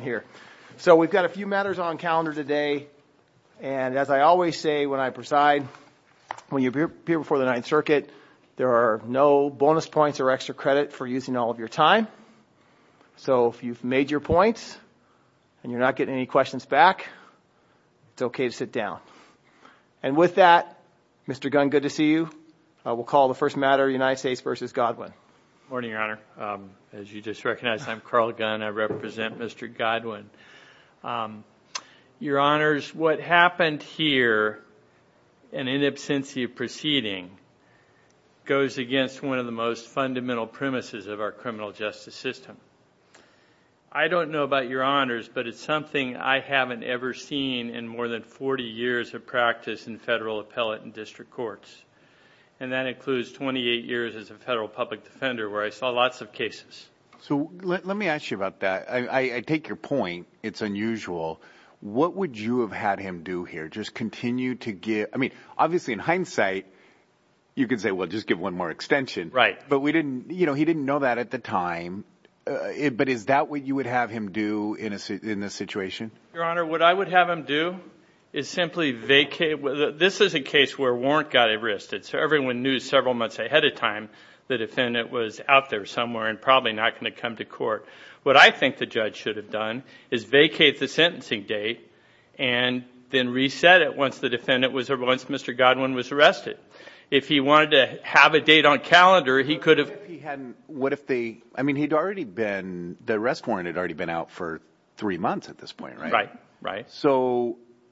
here. So we've got a few matters on calendar today and as I always say when I preside, when you appear before the Ninth Circuit, there are no bonus points or extra credit for using all of your time. So if you've made your points and you're not getting any questions back, it's okay to sit down. And with that, Mr. Gunn, good to see you. I will call the first matter United States v. Godwin. Morning, Your Honor. As you just recognized, I'm Carl Gunn. I represent Mr. Godwin. Your Honors, what happened here and in absence of proceeding goes against one of the most fundamental premises of our criminal justice system. I don't know about Your Honors, but it's something I haven't ever seen in more than 40 years of practice in federal appellate and district courts. And that includes 28 years as a federal public defender where I saw lots of cases. So let me ask you about that. I take your point. It's unusual. What would you have had him do here? Just continue to give, I mean obviously in hindsight, you could say, well just give one more extension. Right. But we didn't, you know, he didn't know that at the time. But is that what you would have him do in this situation? Your Honor, what I would have him do is simply vacate. This is a case where a warrant got arrested. So everyone knew several months ahead of time the defendant was out there somewhere and probably not going to come to court. What I think the judge should have done is vacate the sentencing date and then reset it once the defendant was, once Mr. Godwin was arrested. If he wanted to have a date on calendar, he could have. What if they, I mean he'd already been, the arrest warrant had already been out for three months.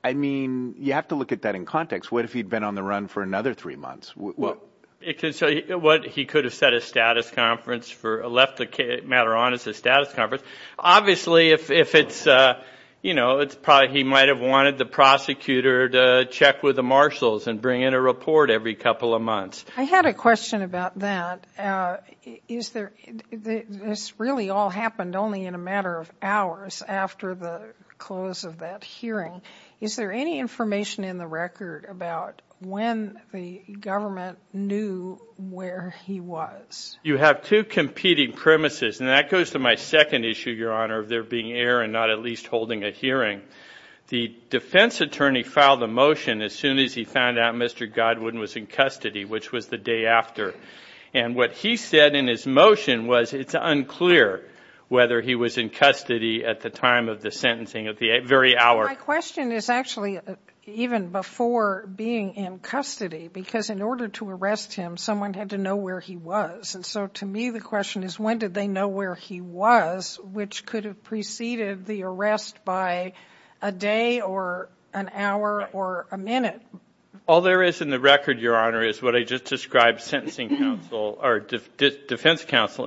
I mean you have to look at that in context. What if he'd been on the run for another three months? Well it could, so what he could have set a status conference for, left the matter on as a status conference. Obviously if it's, you know, it's probably, he might have wanted the prosecutor to check with the marshals and bring in a report every couple of months. I had a question about that. Is there, this really all happened only in a matter of hours after the close of that hearing. Is there any information in the record about when the government knew where he was? You have two competing premises and that goes to my second issue, Your Honor, of there being error and not at least holding a hearing. The defense attorney filed a motion as soon as he found out Mr. Godwin was in custody, which was the day after. And what he said in his motion was it's unclear whether he was in custody at the time of the sentencing of the very hour. My question is actually even before being in custody, because in order to arrest him someone had to know where he was. And so to me the question is when did they know where he was, which could have preceded the arrest by a day or an hour or a minute? All there is in the record, Your Honor, is what I just counseled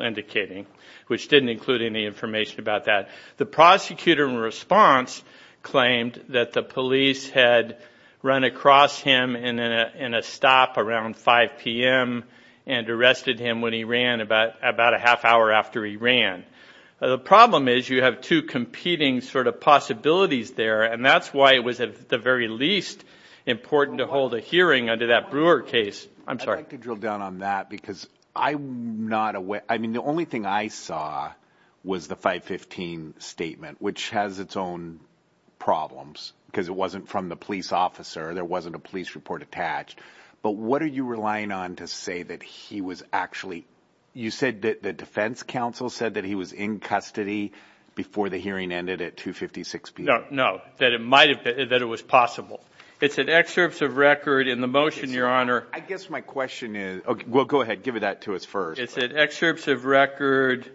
indicating, which didn't include any information about that. The prosecutor in response claimed that the police had run across him in a stop around 5 p.m. and arrested him when he ran about about a half hour after he ran. The problem is you have two competing sort of possibilities there and that's why it was at the very least important to hold a hearing under that I'm sorry. I'd like to drill down on that because I'm not aware, I mean the only thing I saw was the 515 statement, which has its own problems because it wasn't from the police officer, there wasn't a police report attached. But what are you relying on to say that he was actually, you said that the defense counsel said that he was in custody before the hearing ended at 256 p.m.? No, no, that it might have been, that it was possible. It's an excerpt of record in the motion, Your Honor. I guess my question is, okay, well go ahead give it that to us first. It's an excerpt of record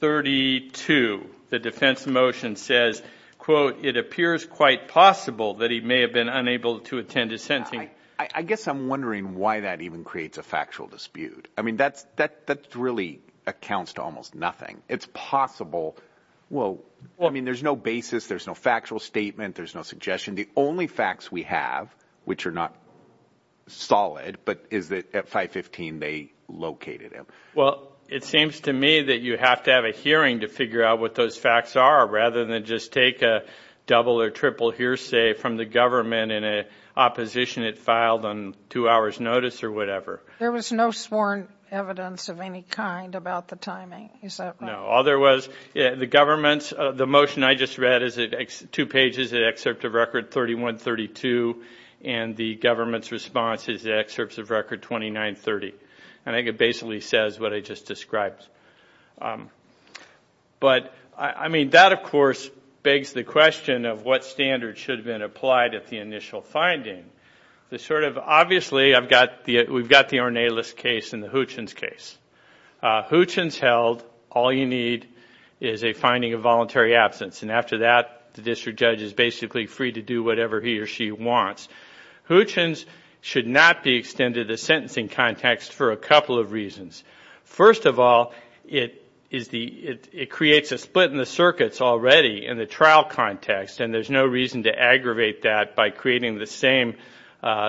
32. The defense motion says, quote, it appears quite possible that he may have been unable to attend a sentencing. I guess I'm wondering why that even creates a factual dispute. I mean that's that that really accounts to almost nothing. It's possible, well, I mean there's no basis, there's no factual statement, there's no suggestion. The only facts we have, which are not solid, but is that at 515 they located him. Well, it seems to me that you have to have a hearing to figure out what those facts are rather than just take a double or triple hearsay from the government in an opposition it filed on two hours notice or whatever. There was no sworn evidence of any kind about the timing, is that right? No, all there was, the government's, the motion I just read is two pages, an excerpt of record 3132, and the government's response is the excerpts of record 2930. And I think it basically says what I just described. But, I mean, that of course begs the question of what standard should have been applied at the initial finding. The sort of, obviously, I've got the, we've got the Ornelas case and the Hutchins case. Hutchins held, all you need is a finding of voluntary absence, and after that the district judge is basically free to do whatever he or she wants. Hutchins should not be extended the sentencing context for a couple of reasons. First of all, it is the, it creates a split in the circuits already in the trial context, and there's no reason to aggravate that by creating the same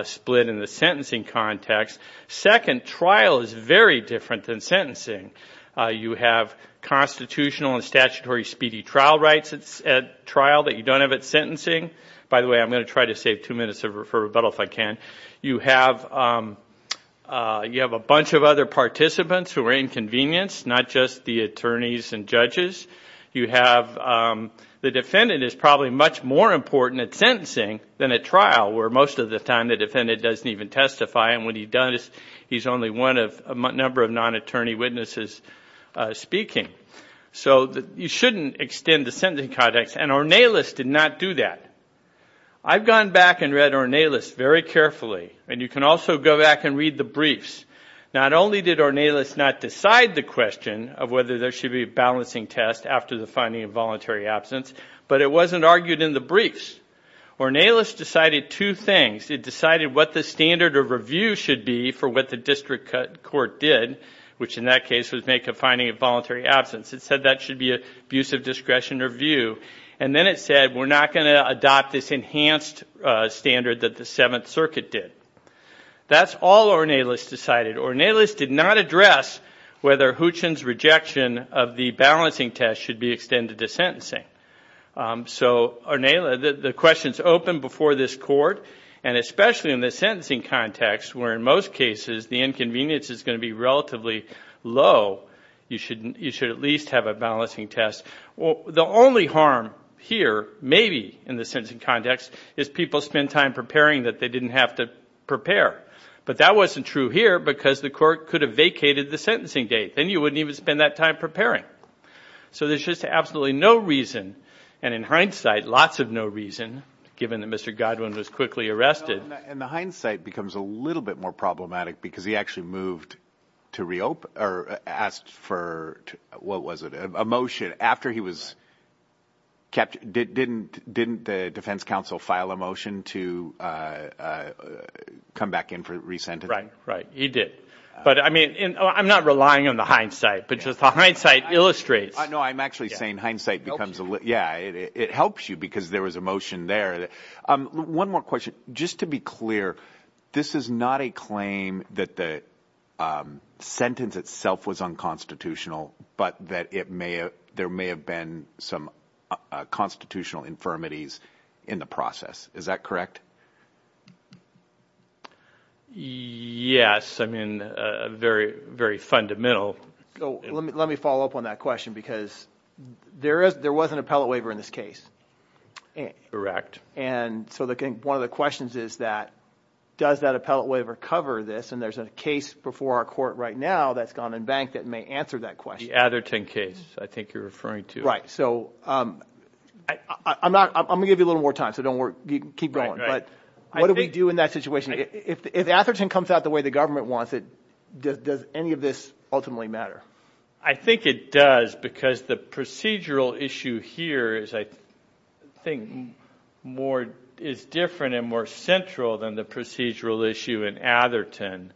split in the sentencing context. Second, trial is very different than sentencing. You have constitutional and statutory speedy trial rights at trial that you don't have at sentencing. By the way, I'm going to try to save two minutes of rebuttal if I can. You have, you have a bunch of other participants who are inconvenienced, not just the attorneys and judges. You have, the defendant is probably much more important at sentencing than at trial, where most of the time the defendant doesn't even testify, and when he does, he's only one of a number of non-attorney witnesses speaking. So you shouldn't extend the sentencing context, and Ornelas did not do that. I've gone back and read Ornelas very carefully, and you can also go back and read the briefs. Not only did Ornelas not decide the question of whether there should be balancing test after the finding of voluntary absence, but it wasn't argued in the briefs. Ornelas decided two things. It decided what the standard of review should be for what the district court did, which in that case was make a finding of voluntary absence. It said that should be a use of discretion or view, and then it said we're not going to adopt this enhanced standard that the Seventh Circuit did. That's all Ornelas decided. Ornelas did not address whether Hootchin's rejection of the balancing test should be extended to sentencing. So Ornelas, the questions open before this court, and especially in the sentencing context, where in most cases the inconvenience is going to be relatively low, you should at least have a balancing test. Well, the only harm here, maybe in the sentencing context, is people spend time preparing that they didn't have to prepare. But that wasn't true here because the court could have vacated the sentencing date. Then you wouldn't even spend that time preparing. So there's just absolutely no reason, and in hindsight, lots of no reason, given that Mr. Godwin was quickly arrested. And the hindsight becomes a little bit more problematic because he actually moved to reopen, or asked for, what was it, a motion after he was kept. Didn't the Defense Council file a motion to come back in for re-sentencing? Right, right, you did. But I mean, I'm not relying on the hindsight, but just the hindsight illustrates. No, I'm actually saying hindsight becomes a little, yeah, it helps you because there was a motion there. One more question. Just to be clear, this is not a claim that the sentence itself was unconstitutional, but that it may have, there may have been some constitutional infirmities in the process. Is that correct? Yes, I mean, very, very fundamental. Let me follow up on that question because there was an appellate waiver in this case. Correct. And so one of the questions is that, does that appellate waiver cover this? And there's a case before our court right now that's gone unbanked that may answer that question. The Atherton case, I think you're referring to. Right, so I'm not, I'm gonna give you a little more time, so don't worry, keep going. But what do we do in that situation? If Atherton comes out the way the government wants it, does any of this ultimately matter? I think it does because the procedural issue here is, I think, more, is different and more central than the procedural issue in Atherton.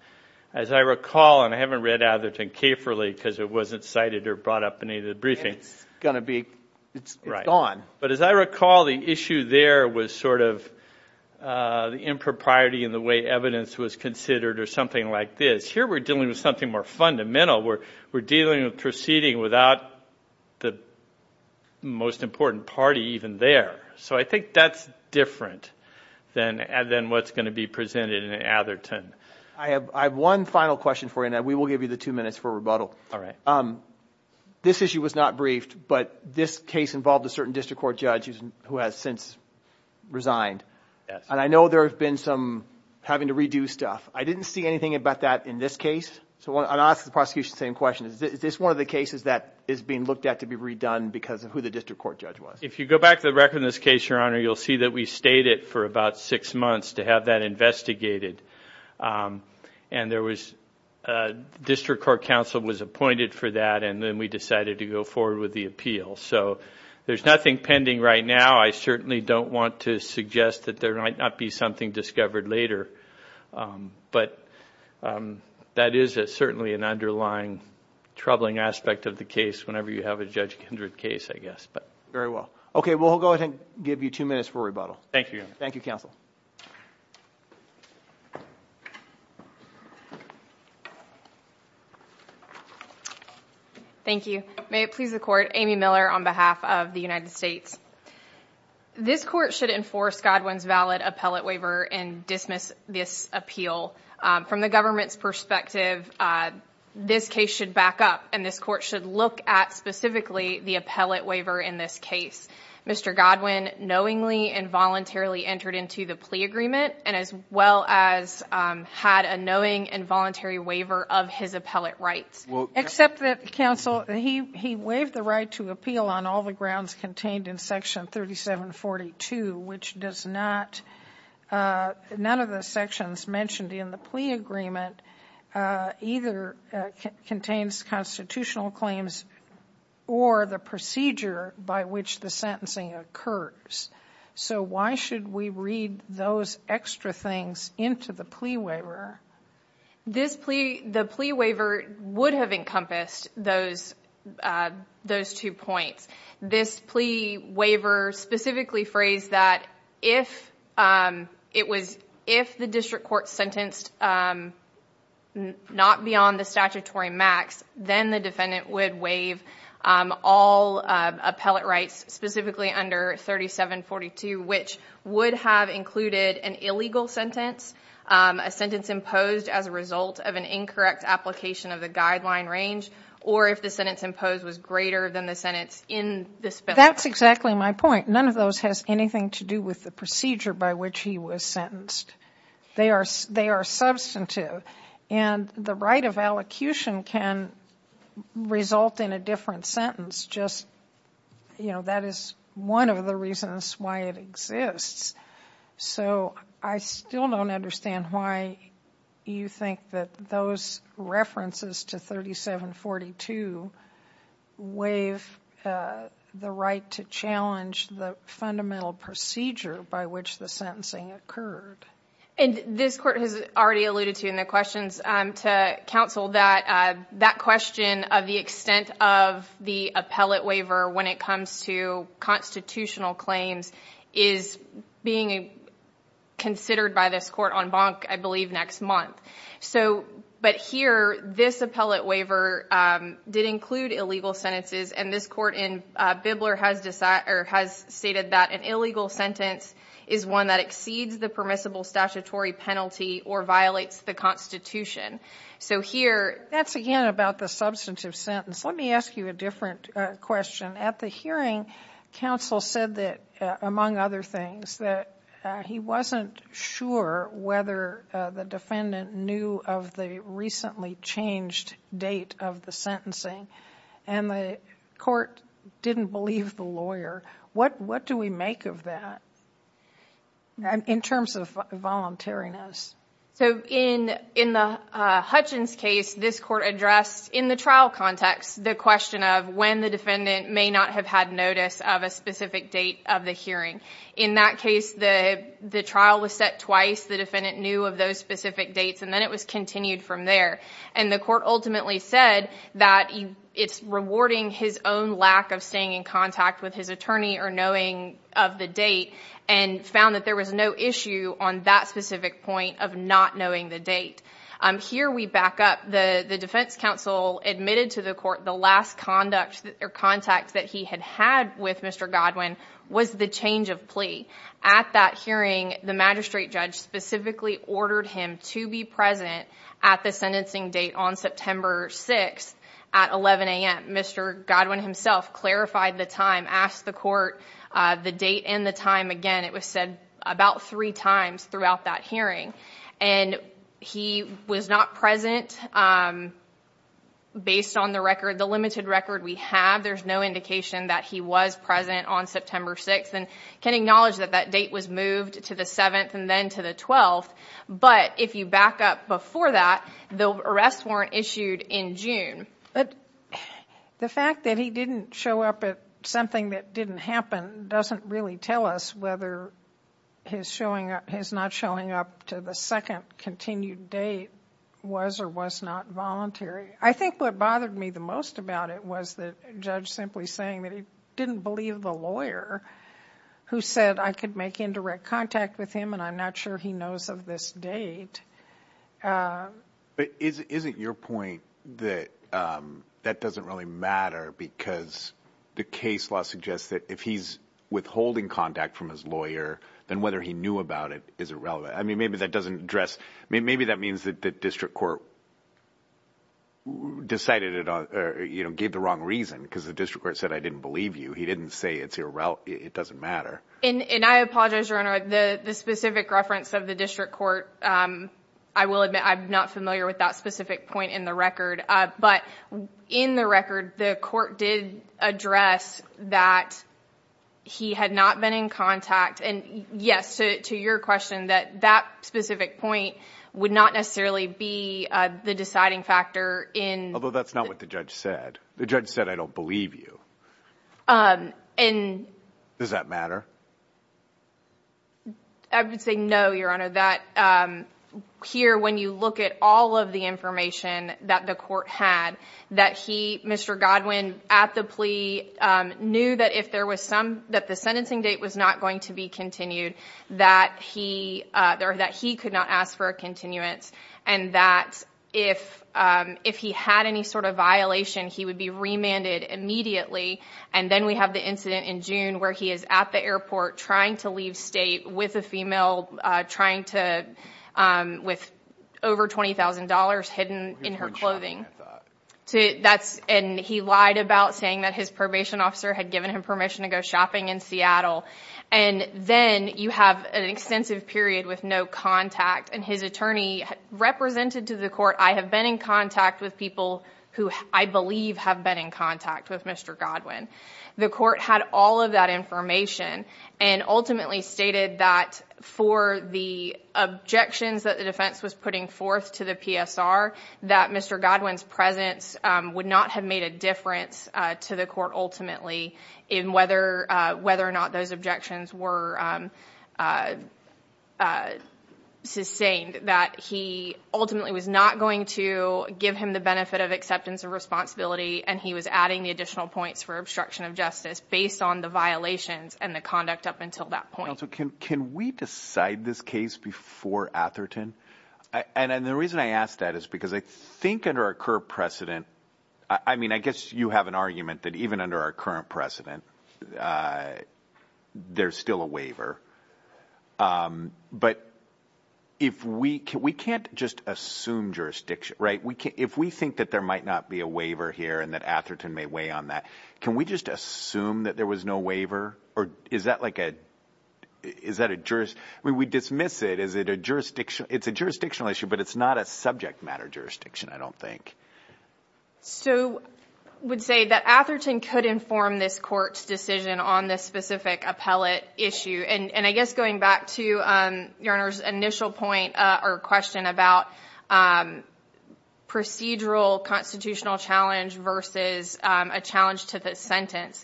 As I recall, and I haven't read Atherton carefully because it wasn't cited or brought up in any of the briefings. It's gonna be, it's gone. But as I recall, the issue there was sort of the impropriety in the way evidence was considered or something like this. Here we're dealing with something more fundamental. We're dealing with proceeding without the most important party even there. So I think that's different than what's going to be presented in Atherton. I have one final question for you, and we will give you the two minutes for rebuttal. All right. This issue was not briefed, but this case involved a certain district court judge who has since resigned. And I know there have been some having to redo stuff. I didn't see anything about that in this case. So I'll ask the prosecution the same question. Is this one of the cases that is being looked at to be redone because of who the district court judge was? If you go back to the record in this case, your honor, you'll see that we stayed it for about six months to have that investigated. And there was, district court counsel was appointed for that, and then we decided to go forward with the appeal. So there's nothing pending right now. I certainly don't want to suggest that there might not be something discovered later. But that is it certainly an underlying troubling aspect of the case whenever you have a Judge Kindred case, I guess. Very well. Okay, we'll go ahead and give you two minutes for rebuttal. Thank you. Thank you, counsel. Thank you. May it please the court, Amy Miller on behalf of the United States. This court should enforce Godwin's valid appellate waiver and dismiss this appeal. From the government's perspective, this case should back up and this court should look at specifically the appellate waiver in this case. Mr. Godwin knowingly and voluntarily entered into the plea agreement and as well as had a knowing and voluntary waiver of his appellate rights. Except that, counsel, he waived the right to appeal on all the grounds contained in section 3742, which does not, none of the sections mentioned in the plea agreement either contains constitutional claims or the procedure by which the sentencing occurs. So why should we read those extra things into the plea waiver? This plea, the plea waiver would have encompassed those those two points. This plea waiver specifically phrased that if it was, if the district court sentenced not beyond the statutory max, then the defendant would waive all appellate rights, specifically under 3742, which would have included an illegal sentence, a sentence imposed as a result of an incorrect application of the guideline range, or if the sentence imposed was greater than the sentence in this bill. That's exactly my point. None of those has anything to do with the procedure by which he was sentenced. They are substantive and the right of allocution can result in a different sentence. Just, you know, that is one of the reasons why it exists. So I still don't understand why you think that those references to 3742 waive the right to challenge the fundamental procedure by which the sentencing occurred. And this court has already alluded to in the questions to counsel that that question of the extent of the appellate waiver when it comes to constitutional claims is being considered by this court on bonk, I believe, next month. So, but here this appellate waiver did include illegal sentences and this court in Bibler has decided or has stated that an illegal sentence is one that exceeds the permissible statutory penalty or violates the Constitution. So here, that's again about the substantive sentence. Let me ask you a different question. At the hearing, counsel said that, among other things, that he wasn't sure whether the defendant knew of the recently changed date of the sentencing and the court didn't believe the lawyer. What do we make of that in terms of voluntariness? So in the Hutchins case, this court addressed in the trial context the question of when the defendant may not have had notice of a specific date of the hearing. In that case, the trial was set twice. The defendant knew of those specific dates and then it was continued from there. And the court ultimately said that it's rewarding his own lack of staying in contact with his attorney or knowing of the date and found that there was no issue on that specific point of not knowing the date. Here we back up. The defense counsel admitted to the court the last conduct or contact that he had had with Mr. Godwin was the change of plea. At that hearing, the magistrate judge specifically ordered him to be present at the sentencing date on September 6th at 11 a.m. Mr. Godwin himself clarified the time, asked the court the date and the time. Again, it was said about three times throughout that hearing. And he was not present based on the record, the limited record we have. There's no indication that he was present on September 6th and can acknowledge that that date was moved to the 7th and then to the 12th. But if you back up before that, the arrests weren't issued in June. But the fact that he didn't show up at something that didn't happen doesn't really tell us whether his not showing up to the second continued date was or was not voluntary. I think what bothered me the most about it was the judge simply saying that he didn't believe the lawyer who said I could make indirect contact with him and I'm not sure he knows of this date. But isn't your point that that doesn't really matter because the case law suggests that if he's withholding contact from his lawyer, then whether he knew about it is irrelevant. I mean maybe that doesn't address, maybe that means that the district court decided it, you know, gave the wrong reason because the district court said I didn't believe you. He didn't say it's irrelevant. It doesn't matter. And I apologize your honor, the specific reference of the district court, I will admit I'm not familiar with that specific point in the record. But in the record the court did address that he had not been in contact and yes to your question that that specific point would not necessarily be the deciding factor Although that's not what the judge said. The judge said I don't believe you. Does that matter? I would say no your honor. That here when you look at all of the information that the court had that he, Mr. Godwin, at the plea knew that if there was some that the sentencing date was not going to be continued that he there that he could not ask for a continuance and that if if he had any sort of violation he would be remanded immediately and then we have the incident in June where he is at the airport trying to leave state with a female trying to with over $20,000 hidden in her clothing to that's and he lied about saying that his probation officer had given him permission to go shopping in Seattle and then you have an extensive period with no contact and his attorney represented to the court I have been in contact with people who I believe have been in contact with Mr. Godwin. The court had all of that information and ultimately stated that for the objections that the defense was putting forth to the PSR that Mr. Godwin's presence would not have made a difference to the court ultimately in whether whether or not those objections were sustained that he ultimately was not going to give him the benefit of acceptance of responsibility and he was adding additional points for obstruction of justice based on the violations and the conduct up until that point. Can we decide this case before Atherton? And the reason I ask that is because I think under our current precedent I mean I guess you have an argument that even under our current precedent there's still a waiver but if we can we can't just assume jurisdiction right we can't if we think that there might not be a waiver here and that Atherton may weigh on that can we just assume that there was no waiver or is that like a is that a jurist we dismiss it is it a jurisdiction it's a jurisdictional issue but it's not a subject matter jurisdiction I don't think. So I would say that Atherton could inform this court's decision on this specific appellate issue and and I guess going back to your initial point or question about procedural constitutional challenge versus a challenge to the sentence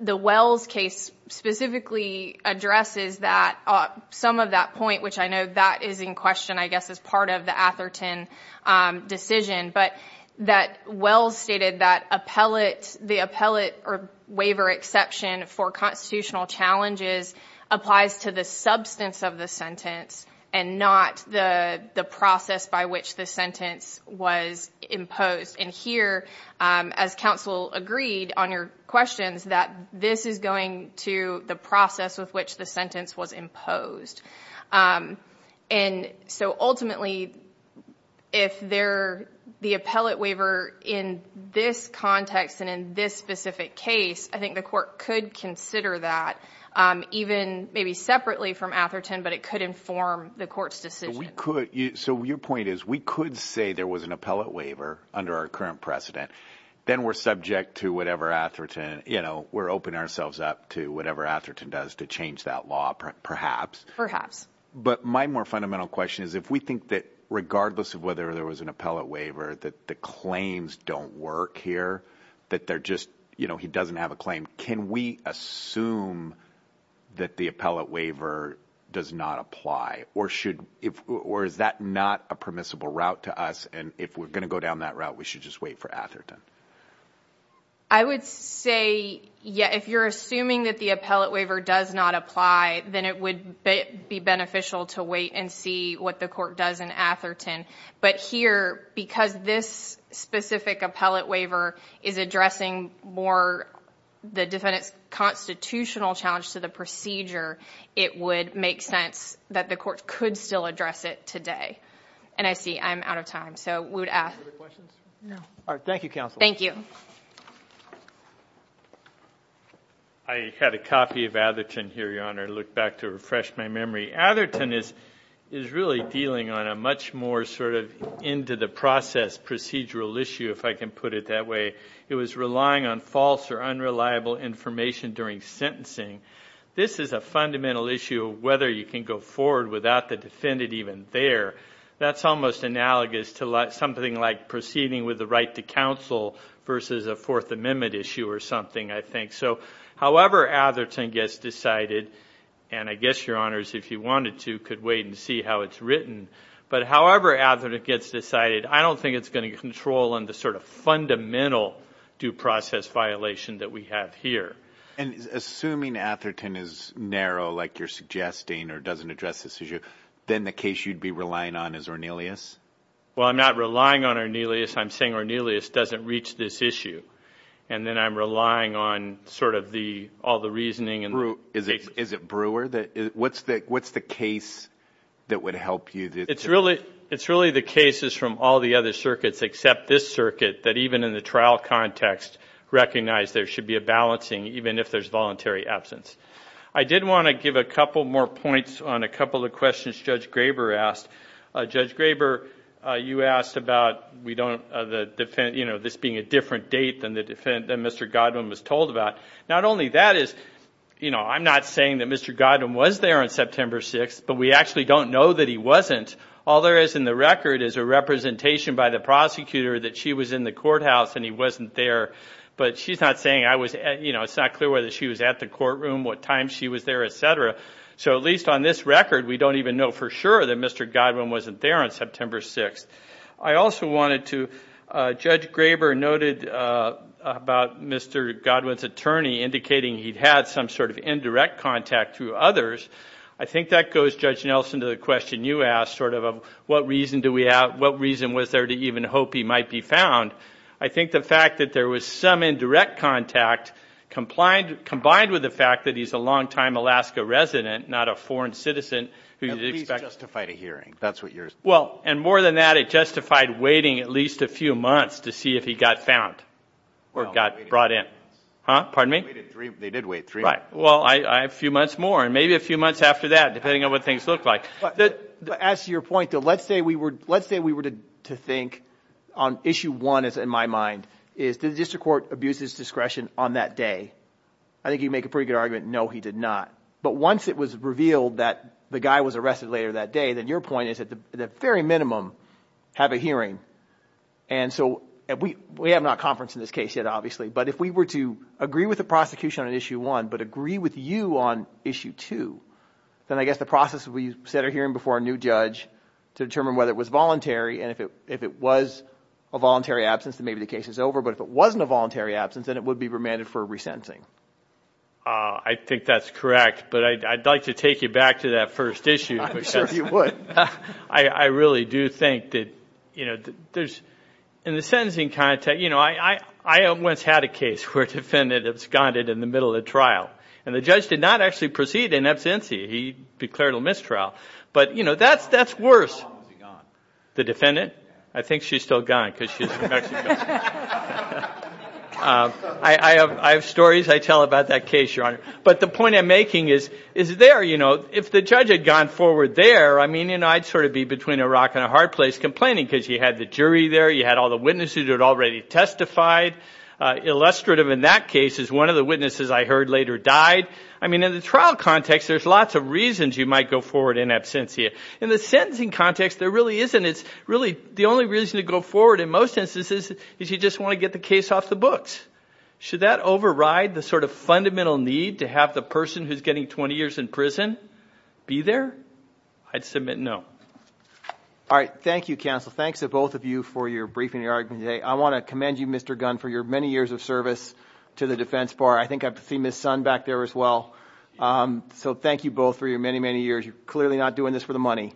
the Wells case specifically addresses that some of that point which I know that is in question I guess as part of the Atherton decision but that Wells stated that appellate the appellate or waiver exception for constitutional challenges applies to the substance of the sentence and not the the process by which the sentence was imposed and here as counsel agreed on your questions that this is going to the process with which the sentence was imposed and so ultimately if they're the appellate waiver in this context and in this specific case I think the court could consider that even maybe separately from Atherton but it could inform the court's decision. So your point is we could say there was an appellate waiver under our current precedent then we're subject to whatever Atherton you know law perhaps but my more fundamental question is if we think that regardless of whether there was an appellate waiver that the claims don't work here that they're just you know he doesn't have a claim can we assume that the appellate waiver does not apply or should if or is that not a permissible route to us and if we're gonna go down that route we should just wait for Atherton? I would say yeah if you're assuming that the appellate waiver does not apply then it would be beneficial to wait and see what the court does in Atherton but here because this specific appellate waiver is addressing more the defendant's constitutional challenge to the procedure it would make sense that the court could still address it today and I see I'm out of time so we would ask all right thank you counsel thank you I had a copy of Atherton here your honor look back to refresh my memory Atherton is is really dealing on a much more sort of into the process procedural issue if I can put it that way it was relying on false or unreliable information during sentencing this is a fundamental issue whether you can go forward without the defendant even there that's almost analogous to let something like proceeding with the right to counsel versus a Fourth Amendment issue or something I think so however Atherton gets decided and I guess your honors if you wanted to could wait and see how it's written but however Atherton it gets decided I don't think it's going to control on the sort of fundamental due process violation that we have here and assuming Atherton is narrow like you're suggesting or doesn't address this issue then the case you'd be relying on is Ornelius well I'm not relying on Ornelius I'm saying Ornelius doesn't reach this issue and then I'm relying on sort of the all the reasoning and is it brewer that is what's that what's the case that would help you it's really it's really the cases from all the other circuits except this circuit that even in the trial context recognize there should be a balancing even if there's voluntary absence I did want to give a you know this being a different date than the defendant mr. Godwin was told about not only that is you know I'm not saying that mr. Godwin was there on September 6th but we actually don't know that he wasn't all there is in the record is a representation by the prosecutor that she was in the courthouse and he wasn't there but she's not saying I was you know it's not clear whether she was at the courtroom what time she was there etc so at least on this record we don't even know for sure that mr. Godwin wasn't there on September 6th I also wanted to judge Graber noted about mr. Godwin's attorney indicating he'd had some sort of indirect contact to others I think that goes judge Nelson to the question you asked sort of a what reason do we have what reason was there to even hope he might be found I think the fact that there was some indirect contact complied combined with the fact that he's a longtime Alaska resident not a foreign citizen who's justified a hearing that's what yours well and more than that it justified waiting at least a few months to see if he got found or got brought in huh pardon me they did wait three right well I have a few months more and maybe a few months after that depending on what things look like that as your point though let's say we were let's say we were to think on issue one is in my mind is the district court abuses discretion on that day I think you make a pretty good argument no he did not but once it was revealed that the guy was arrested later that day then your point is at the very minimum have a hearing and so we we have not conference in this case yet obviously but if we were to agree with the prosecution on issue one but agree with you on issue two then I guess the process we set our hearing before a new judge to determine whether it was voluntary and if it if it was a voluntary absence that maybe the case is over but if it wasn't a voluntary absence then it would be remanded for resentencing I think that's correct but I'd like to take you back to that first issue I really do think that you know there's in the sentencing contact you know I I have once had a case where defendant absconded in the middle of trial and the judge did not actually proceed in absentee he declared a mistrial but you know that's that's worse the defendant I think she's still gone because I have I have stories I but the point I'm making is is there you know if the judge had gone forward there I mean you know I'd sort of be between a rock and a hard place complaining because you had the jury there you had all the witnesses who had already testified illustrative in that case is one of the witnesses I heard later died I mean in the trial context there's lots of reasons you might go forward in absentee in the sentencing context there really isn't it's really the only reason to go forward in most instances is you just want to get the case off the books should that override the sort of fundamental need to have the person who's getting 20 years in prison be there I'd submit no all right thank you counsel thanks to both of you for your briefing your argument today I want to commend you mr. gun for your many years of service to the defense bar I think I have to see miss son back there as well so thank you both for your many many years you're clearly not doing this for the money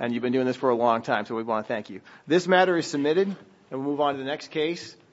and you've been doing this for a long time so we want to thank you this matter is submitted and move on to the